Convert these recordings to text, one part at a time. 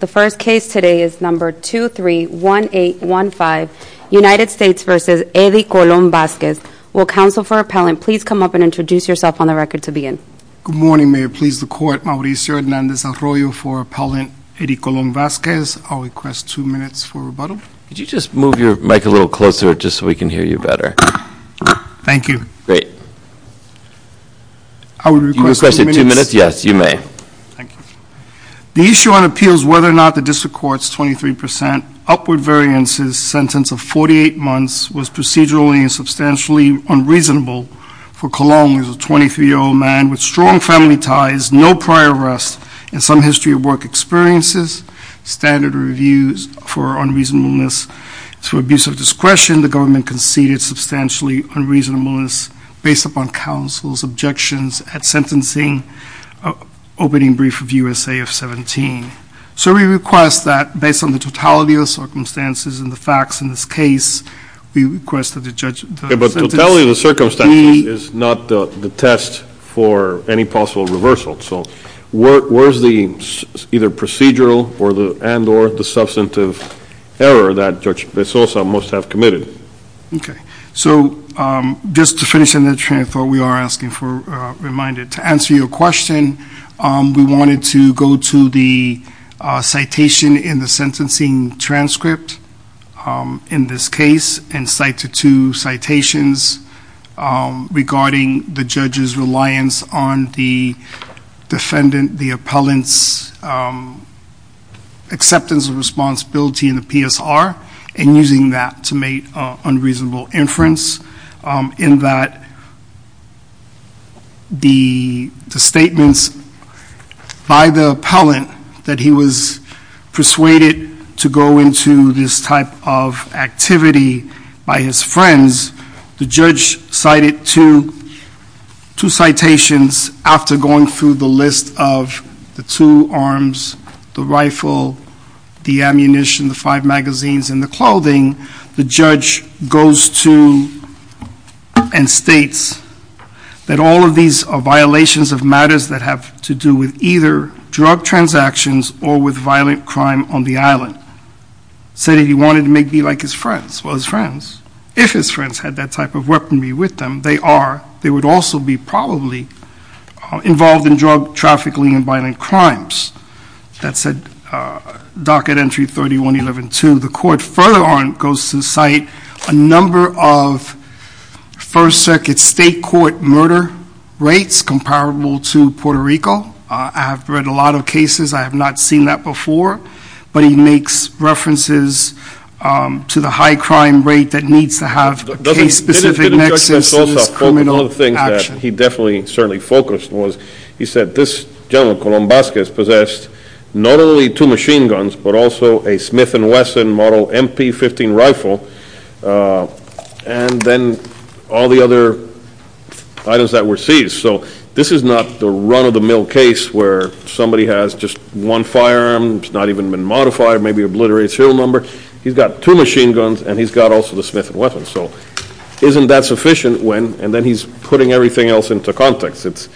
The first case today is number 231815, United States v. Eddie Colon-Vazquez. Will counsel for appellant please come up and introduce yourself on the record to begin. Good morning, Mayor. Please the court, Mauricio Hernandez-Arroyo for appellant Eddie Colon-Vazquez. I'll request two minutes for rebuttal. Could you just move your mic a little closer just so we can hear you better? Thank you. Great. I will request two minutes. You requested two minutes? Yes, you may. Thank you. The issue on appeal is whether or not the district court's 23% upward variances sentence of 48 months was procedurally and substantially unreasonable for Colon, who is a 23-year-old man with strong family ties, no prior arrest, and some history of work experiences, standard reviews for unreasonableness to abuse of discretion. The government conceded substantially unreasonableness based upon counsel's objections at sentencing, opening brief of U.S.A. of 17. So we request that based on the totality of the circumstances and the facts in this case, we request that the judge... Okay, but totality of the circumstances is not the test for any possible reversal. So where's the either procedural and or the substantive error that Judge Bezosa must have committed? Okay. So just to finish on that, I thought we are asking for a reminder. To answer your question, we wanted to go to the citation in the sentencing transcript in this case and cite the two citations regarding the judge's reliance on the defendant, the in that the statements by the appellant that he was persuaded to go into this type of activity by his friends, the judge cited two citations after going through the list of the two arms, the rifle, the ammunition, the five magazines, and the clothing. The judge goes to and states that all of these are violations of matters that have to do with either drug transactions or with violent crime on the island, said he wanted to make me like his friends. Well, his friends, if his friends had that type of weaponry with them, they are, they would also be probably involved in drug trafficking and violent crimes. That said, docket entry 3112, the court further on goes to cite a number of first circuit state court murder rates comparable to Puerto Rico. I have read a lot of cases. I have not seen that before. But he makes references to the high crime rate that needs to have a case specific nexus of criminal action. One of the things that he definitely, certainly focused was, he said this gentleman, Colón Vázquez, possessed not only two machine guns, but also a Smith and Wesson model MP15 rifle and then all the other items that were seized. So this is not the run of the mill case where somebody has just one firearm, it's not even been modified, maybe obliterated serial number. He's got two machine guns and he's got also the Smith and Wesson. So isn't that sufficient when, and then he's putting everything else into context.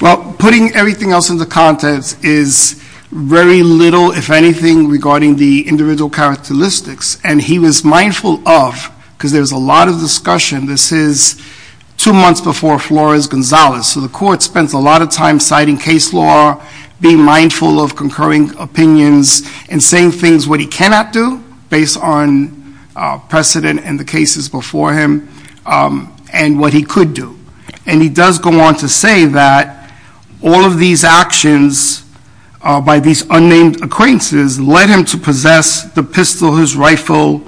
Well, putting everything else into context is very little, if anything, regarding the individual characteristics. And he was mindful of, because there's a lot of discussion, this is two months before Flores-Gonzalez. So the court spends a lot of time citing case law, being mindful of concurring opinions and saying things what he cannot do, based on precedent and the cases before him, and what he could do. And he does go on to say that all of these actions by these unnamed acquaintances led him to possess the pistol, his rifle,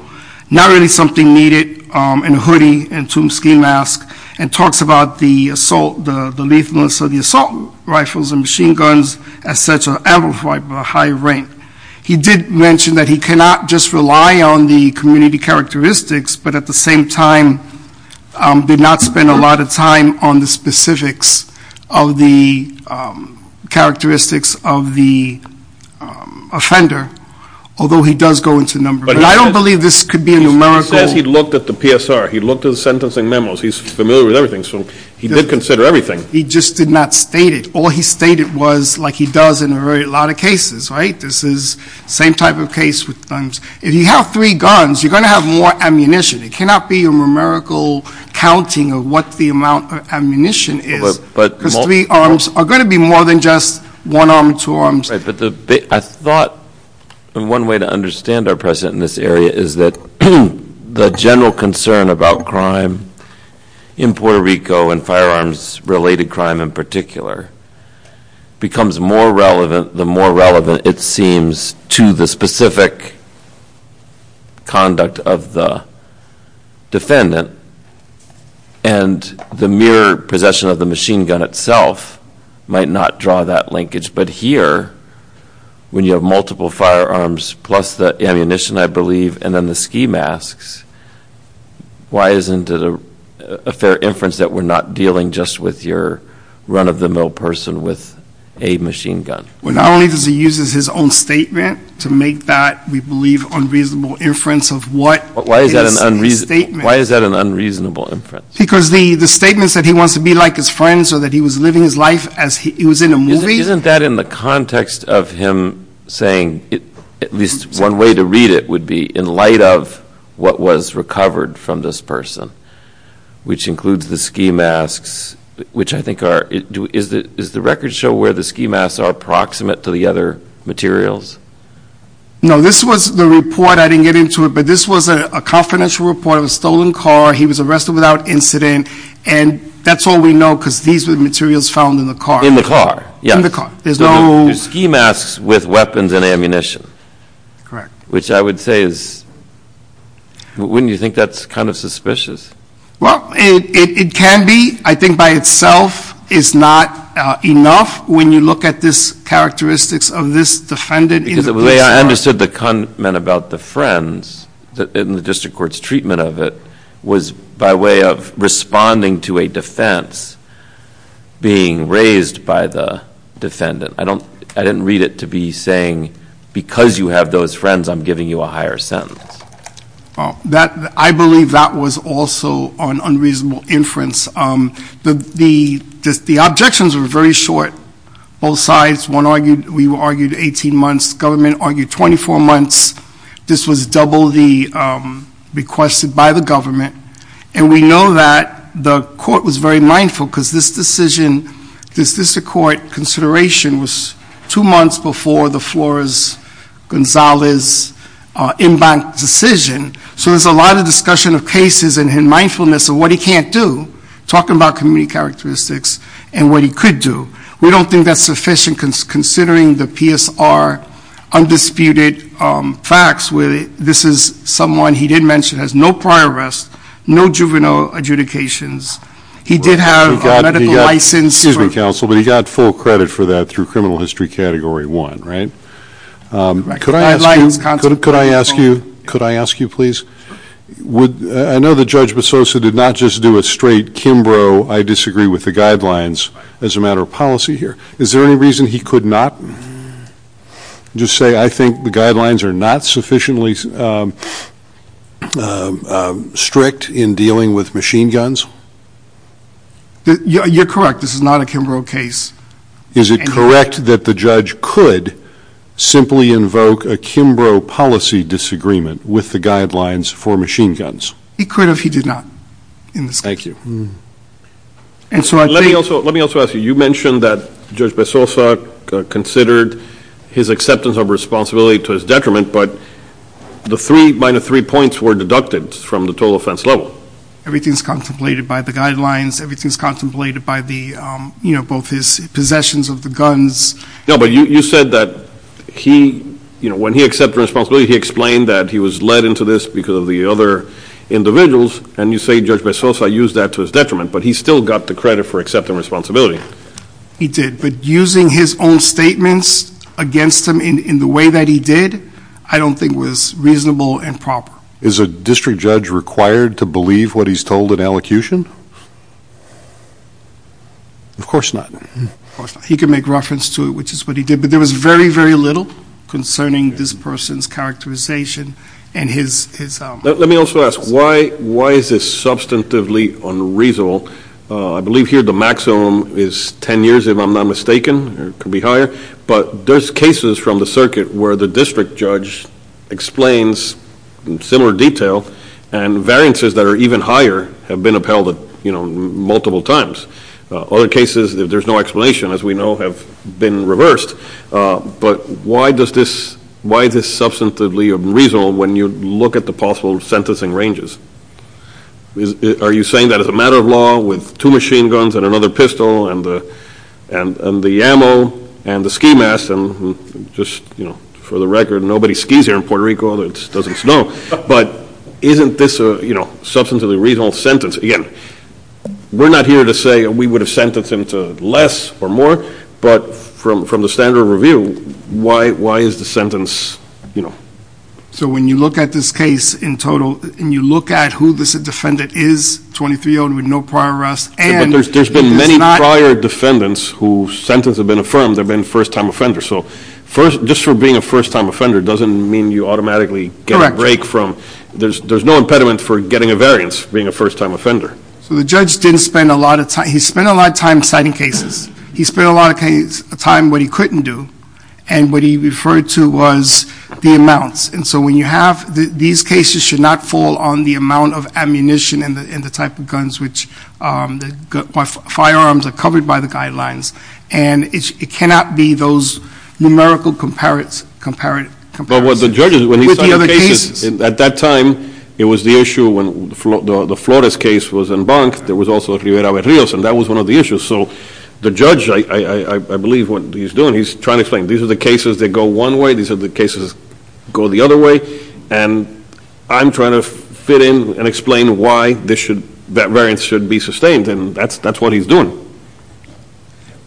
not really something needed, and a hoodie, and two ski masks, and talks about the assault, the lethalness of the assault rifles and machine guns. He did mention that he cannot just rely on the community characteristics, but at the same time did not spend a lot of time on the specifics of the characteristics of the offender. Although he does go into a number, but I don't believe this could be a numerical. He says he looked at the PSR. He looked at the sentencing memos. He's familiar with everything, so he did consider everything. He just did not state it. All he stated was, like he does in a lot of cases, right? This is the same type of case with guns. If you have three guns, you're going to have more ammunition. It cannot be a numerical counting of what the amount of ammunition is, because three arms are going to be more than just one arm, two arms. I thought one way to understand our precedent in this area is that the general concern about crime in Puerto Rico, and firearms-related crime in particular, becomes more relevant the more relevant it seems to the specific conduct of the defendant. And the mere possession of the machine gun itself might not draw that linkage. But here, when you have multiple firearms plus the ammunition, I believe, and then the a fair inference that we're not dealing just with your run-of-the-mill person with a machine gun. Well, not only does he use his own statement to make that, we believe, unreasonable inference of what is in his statement. Why is that an unreasonable inference? Because the statement said he wants to be like his friends or that he was living his life as he was in a movie. Isn't that in the context of him saying, at least one way to read it would be, in light of what was recovered from this person, which includes the ski masks, which I think are – is the record show where the ski masks are approximate to the other materials? No. This was the report. I didn't get into it. But this was a confidential report of a stolen car. He was arrested without incident. And that's all we know because these were the materials found in the car. In the car. Yes. In the car. There's no – Ski masks with weapons and ammunition. Correct. Which I would say is – wouldn't you think that's kind of suspicious? Well, it can be. I think by itself is not enough when you look at this characteristics of this defendant in the case file. Because the way I understood the comment about the friends in the district court's treatment of it was by way of responding to a defense being raised by the defendant. I didn't read it to be saying, because you have those friends, I'm giving you a higher sentence. I believe that was also an unreasonable inference. The objections were very short. Both sides. One argued – we argued 18 months. Government argued 24 months. This was double the requested by the government. And we know that the court was very mindful because this decision – this district court consideration was two months before the Flores-Gonzalez in-bank decision. So there's a lot of discussion of cases and in mindfulness of what he can't do. Talking about community characteristics and what he could do. We don't think that's sufficient considering the PSR undisputed facts where this is someone he did mention has no prior arrest, no juvenile adjudications. He did have a medical license. Excuse me, counsel, but he got full credit for that through criminal history category one, right? Right. Could I ask you, could I ask you, could I ask you, please, would – I know that Judge Besosa did not just do a straight Kimbrough, I disagree with the guidelines as a matter of policy here. Is there any reason he could not just say, I think the guidelines are not sufficiently strict in dealing with machine guns? You're correct. This is not a Kimbrough case. Is it correct that the judge could simply invoke a Kimbrough policy disagreement with the guidelines for machine guns? He could if he did not in this case. Thank you. Let me also ask you, you mentioned that Judge Besosa considered his acceptance of responsibility to his detriment, but the three – minus three points were deducted from the total offense level. Everything's contemplated by the guidelines, everything's contemplated by the, you know, both his possessions of the guns. No, but you said that he, you know, when he accepted responsibility, he explained that he was led into this because of the other individuals, and you say Judge Besosa used that to his detriment, but he still got the credit for accepting responsibility. He did, but using his own statements against him in the way that he did, I don't think was reasonable and proper. Is a district judge required to believe what he's told in elocution? Of course not. Of course not. He can make reference to it, which is what he did, but there was very, very little concerning this person's characterization and his – Let me also ask, why is this substantively unreasonable? I believe here the maximum is ten years, if I'm not mistaken, or it could be higher, but there's cases from the circuit where the district judge explains in similar detail and variances that are even higher have been upheld, you know, multiple times. Other cases, there's no explanation, as we know, have been reversed, but why does this – why is this substantively unreasonable when you look at the possible sentencing ranges? Are you saying that it's a matter of law with two machine guns and another pistol and the ammo and the ski mask and just, you know, for the record, nobody skis here in Puerto Rico, it doesn't snow, but isn't this a, you know, substantively reasonable sentence? Again, we're not here to say we would have sentenced him to less or more, but from the standard of review, why is the sentence, you know – So when you look at this case in total, and you look at who this defendant is, 23-year-old with no prior arrests, and – There's been many prior defendants whose sentences have been affirmed have been first-time offenders, so just for being a first-time offender doesn't mean you automatically get a break from – There's no impediment for getting a variance for being a first-time offender. So the judge didn't spend a lot of time – he spent a lot of time citing cases. He spent a lot of time what he couldn't do, and what he referred to was the amounts. And so when you have – these cases should not fall on the amount of ammunition and the type of guns which – firearms are covered by the guidelines, and it cannot be those numerical comparisons with the other cases. At that time, it was the issue when the Flores case was in Bank, there was also Rivera-Rios, and that was one of the issues. So the judge, I believe what he's doing, he's trying to explain, these are the cases that go one way, these are the cases that go the other way, and I'm trying to fit in and explain why that variance should be sustained, and that's what he's doing.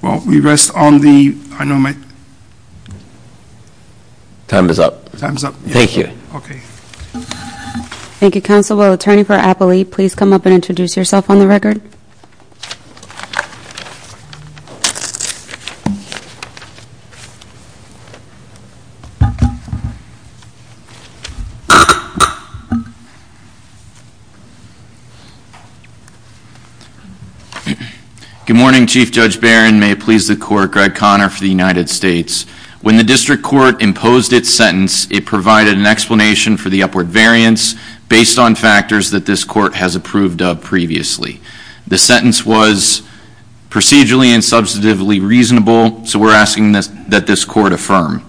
Well we rest on the – Time is up. Time is up. Thank you. Okay. Thank you, counsel. Attorney for Appley, please come up and introduce yourself on the record. Good morning, Chief Judge Barron. May it please the Court, Greg Conner for the United States. When the District Court imposed its sentence, it provided an explanation for the upward variance based on factors that this Court has approved of previously. The sentence was procedurally and substantively reasonable, so we're asking that this Court affirm.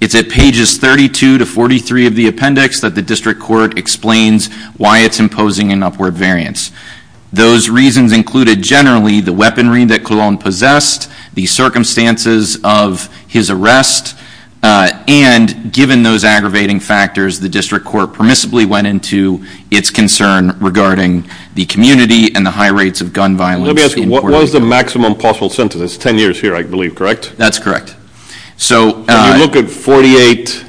It's at pages 32 to 43 of the appendix that the District Court explains why it's imposing an upward variance. Those reasons included generally the weaponry that Colon possessed, the circumstances of his arrest, and given those aggravating factors, the District Court permissibly went into its concern regarding the community and the high rates of gun violence. Let me ask you, what was the maximum possible sentence? It's 10 years here, I believe, correct? That's correct. So – When you look at 48,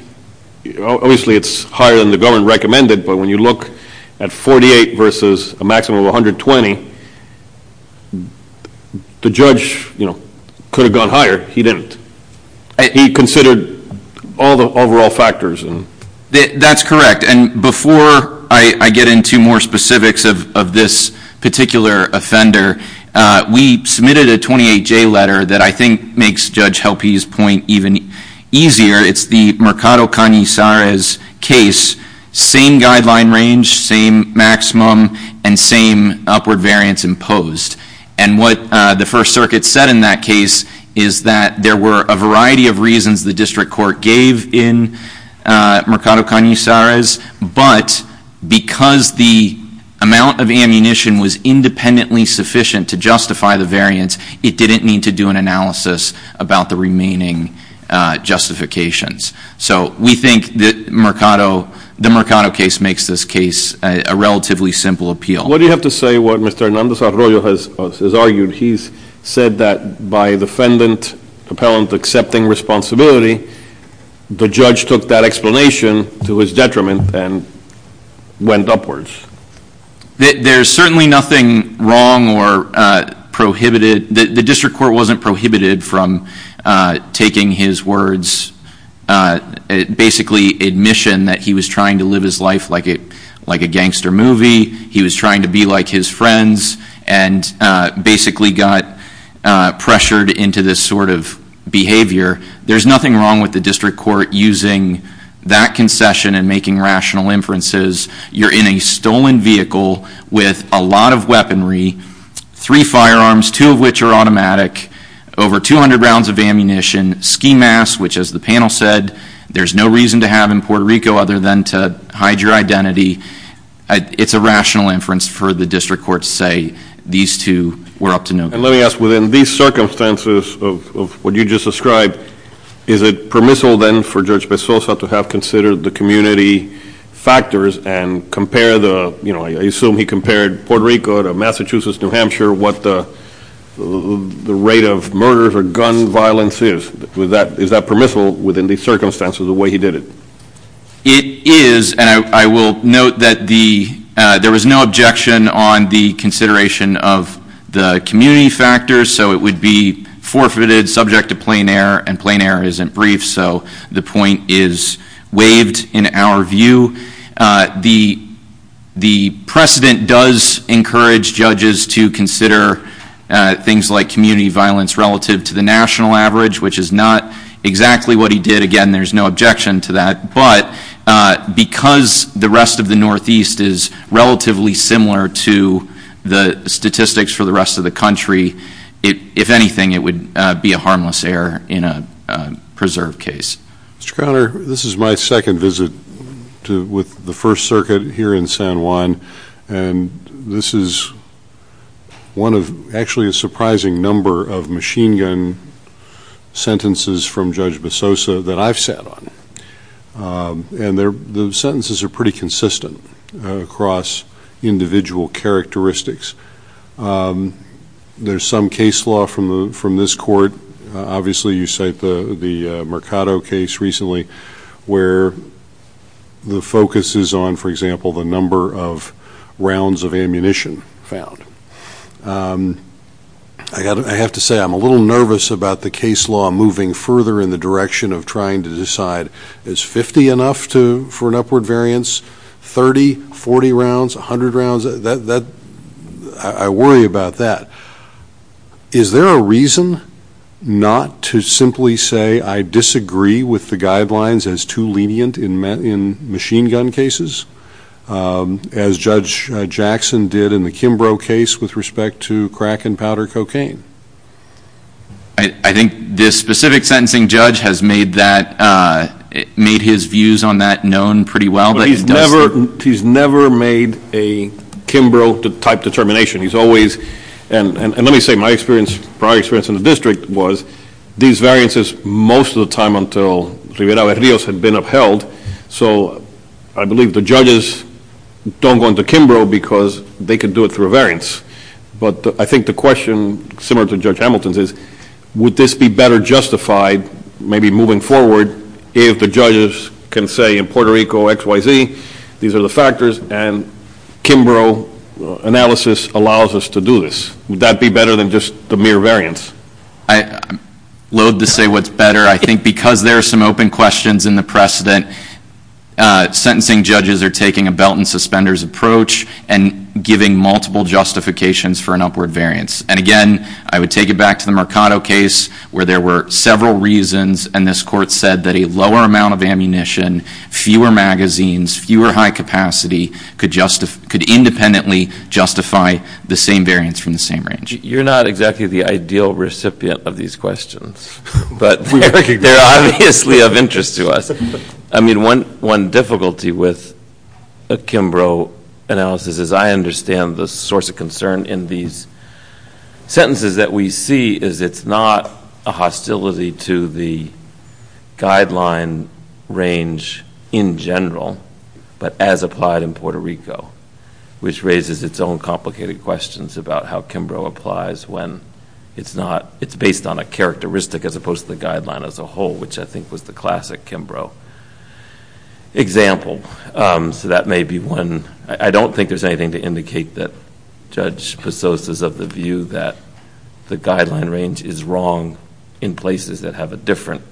obviously it's higher than the government recommended, but when you look at 48 versus a maximum of 120, the judge, you know, could have gone higher. He didn't. He considered all the overall factors. That's correct. And before I get into more specifics of this particular offender, we submitted a 28-J letter that I think makes Judge Helpe's point even easier. It's the Mercado Canizares case. Same guideline range, same maximum, and same upward variance imposed. And what the First Circuit said in that case is that there were a variety of reasons the District Court gave in Mercado Canizares, but because the amount of ammunition was independently sufficient to justify the variance, it didn't need to do an analysis about the remaining justifications. So we think that Mercado – the Mercado case makes this case a relatively simple appeal. What do you have to say what Mr. Hernandez-Arroyo has argued? He's said that by defendant, appellant accepting responsibility, the judge took that explanation to his detriment and went upwards. There's certainly nothing wrong or prohibited – the District Court wasn't prohibited from taking his words – basically admission that he was trying to live his life like a gangster movie. He was trying to be like his friends and basically got pressured into this sort of behavior. There's nothing wrong with the District Court using that concession and making rational inferences. You're in a stolen vehicle with a lot of weaponry, three firearms, two of which are automatic, over 200 rounds of ammunition, ski masks, which as the panel said, there's no reason to have in Puerto Rico other than to hide your identity. It's a rational inference for the District Court to say these two were up to no good. And let me ask, within these circumstances of what you just described, is it permissible then for Judge Pesosa to have considered the community factors and compare – I assume he compared Puerto Rico to Massachusetts, New Hampshire, what the rate of murder or gun violence is. Is that permissible within these circumstances, the way he did it? It is, and I will note that there was no objection on the consideration of the community factors, so it would be forfeited, subject to plain error, and plain error isn't brief, so the point is waived in our view. The precedent does encourage judges to consider things like community violence relative to the national average, which is not exactly what he did. Again, there's no objection to that, but because the rest of the Northeast is relatively similar to the statistics for the rest of the country, if anything, it would be a harmless error in a preserved case. Mr. Conner, this is my second visit with the First Circuit here in San Juan, and this is one of actually a surprising number of machine gun sentences from Judge Pesosa that I've sat on, and the sentences are pretty consistent across individual characteristics. There's some case law from this court, obviously you cite the Mercado case recently, where the focus is on, for example, the number of rounds of ammunition found. I have to say, I'm a little nervous about the case law moving further in the direction of trying to decide is 50 enough for an upward variance, 30, 40 rounds, 100 rounds, I worry about that. Is there a reason not to simply say I disagree with the guidelines as too lenient in machine gun cases, as Judge Jackson did in the Kimbrough case with respect to crack and powder cocaine? I think this specific sentencing judge has made that, made his views on that known pretty well. But he's never made a Kimbrough type determination. He's always, and let me say my experience, prior experience in the district was these variances most of the time until Riverao and Rios had been upheld, so I believe the judges don't go into Kimbrough because they can do it through a variance. But I think the question, similar to Judge Hamilton's, is would this be better justified, maybe moving forward, if the judges can say in Puerto Rico, XYZ, these are the factors, and Kimbrough analysis allows us to do this? Would that be better than just the mere variance? I loathe to say what's better. I think because there are some open questions in the precedent, sentencing judges are taking a belt and suspenders approach and giving multiple justifications for an upward variance. And again, I would take it back to the Mercado case where there were several reasons and this court said that a lower amount of ammunition, fewer magazines, fewer high capacity could independently justify the same variance from the same range. You're not exactly the ideal recipient of these questions, but they're obviously of interest to us. I mean, one difficulty with a Kimbrough analysis is I understand the source of concern in these sentences that we see is it's not a hostility to the guideline range in general, but as applied in Puerto Rico, which raises its own complicated questions about how Kimbrough applies when it's based on a characteristic as opposed to the guideline as a whole, which I think was the classic Kimbrough example. So that may be one. I don't think there's anything to indicate that Judge Pesos is of the view that the guideline range is wrong in places that have a different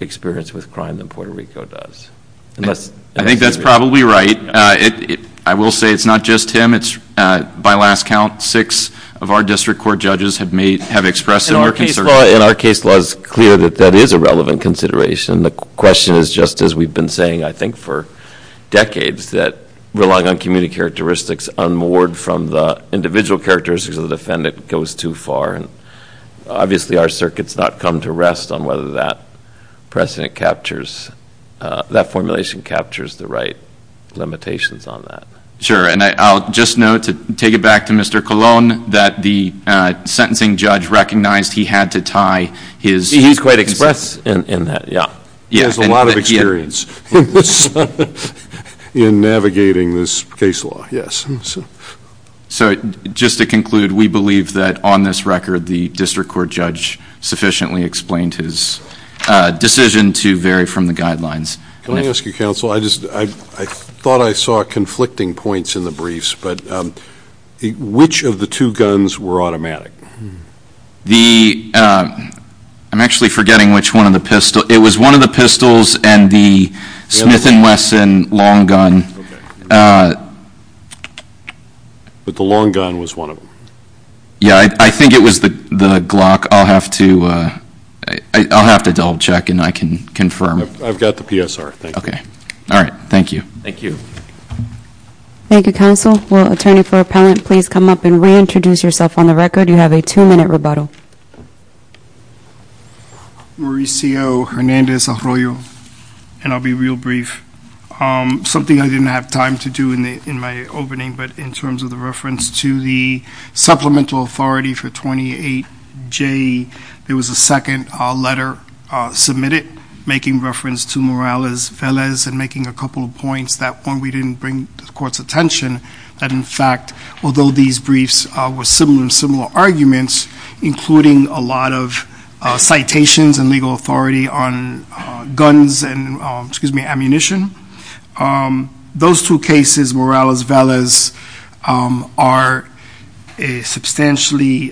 experience with crime than Puerto Rico does. I think that's probably right. I will say it's not just him. By last count, six of our district court judges have expressed their concern. Well, in our case law, it's clear that that is a relevant consideration. The question is just as we've been saying, I think, for decades that relying on community characteristics unmoored from the individual characteristics of the defendant goes too far. And obviously, our circuit's not come to rest on whether that precedent captures, that formulation captures the right limitations on that. Sure. And I'll just note, to take it back to Mr. Colon, that the sentencing judge recognized he had to tie his... He's quite express in that, yeah. He has a lot of experience in navigating this case law, yes. So just to conclude, we believe that on this record, the district court judge sufficiently explained his decision to vary from the guidelines. Can I ask you, counsel, I thought I saw conflicting points in the briefs, but which of the two guns were automatic? The... I'm actually forgetting which one of the pistols... It was one of the pistols and the Smith & Wesson long gun. Okay. But the long gun was one of them. Yeah, I think it was the Glock. I'll have to double check and I can confirm. I've got the PSR. Thank you. Okay. All right. Thank you. Thank you. Thank you, counsel. Will attorney for Appellant please come up and reintroduce yourself on the record? You have a two-minute rebuttal. Mauricio Hernandez-Arroyo, and I'll be real brief. Something I didn't have time to do in my opening, but in terms of the reference to the supplemental authority for 28J, there was a second letter submitted making reference to Morales-Velez and making a couple of points that when we didn't bring the court's attention, that in briefs were similar and similar arguments, including a lot of citations and legal authority on guns and, excuse me, ammunition. Those two cases, Morales-Velez, are substantially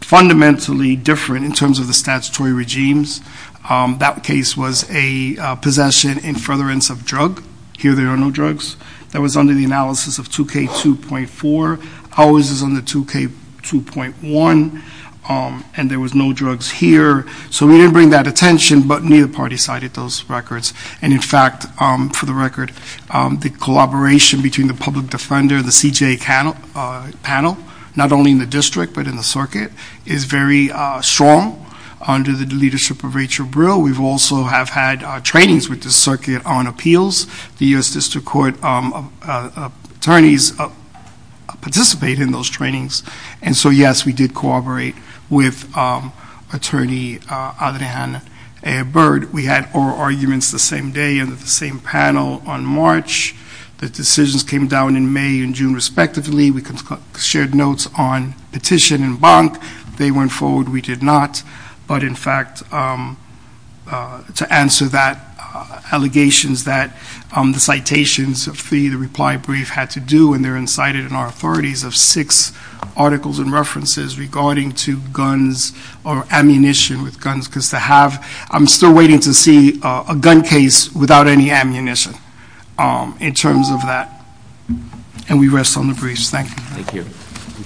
fundamentally different in terms of the statutory regimes. That case was a possession in furtherance of drug. Here there are no drugs. That was under the analysis of 2K2.4. Ours is under 2K2.1, and there was no drugs here. So we didn't bring that attention, but neither party cited those records. And in fact, for the record, the collaboration between the public defender, the CJA panel, not only in the district but in the circuit, is very strong under the leadership of Rachel Brill. We also have had trainings with the circuit on appeals. The U.S. District Court attorneys participate in those trainings. And so, yes, we did cooperate with Attorney Adrian Ebert. We had oral arguments the same day under the same panel on March. The decisions came down in May and June, respectively. We shared notes on petition and bonk. They went forward. We did not. But in fact, to answer that, allegations that the citations of fee, the reply brief had to do, and they're incited in our authorities of six articles and references regarding to guns or ammunition with guns, because to have – I'm still waiting to see a gun case without any ammunition in terms of that. And we rest on the briefs. Thank you. Thank you.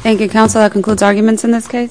Thank you, counsel. That concludes arguments in this case.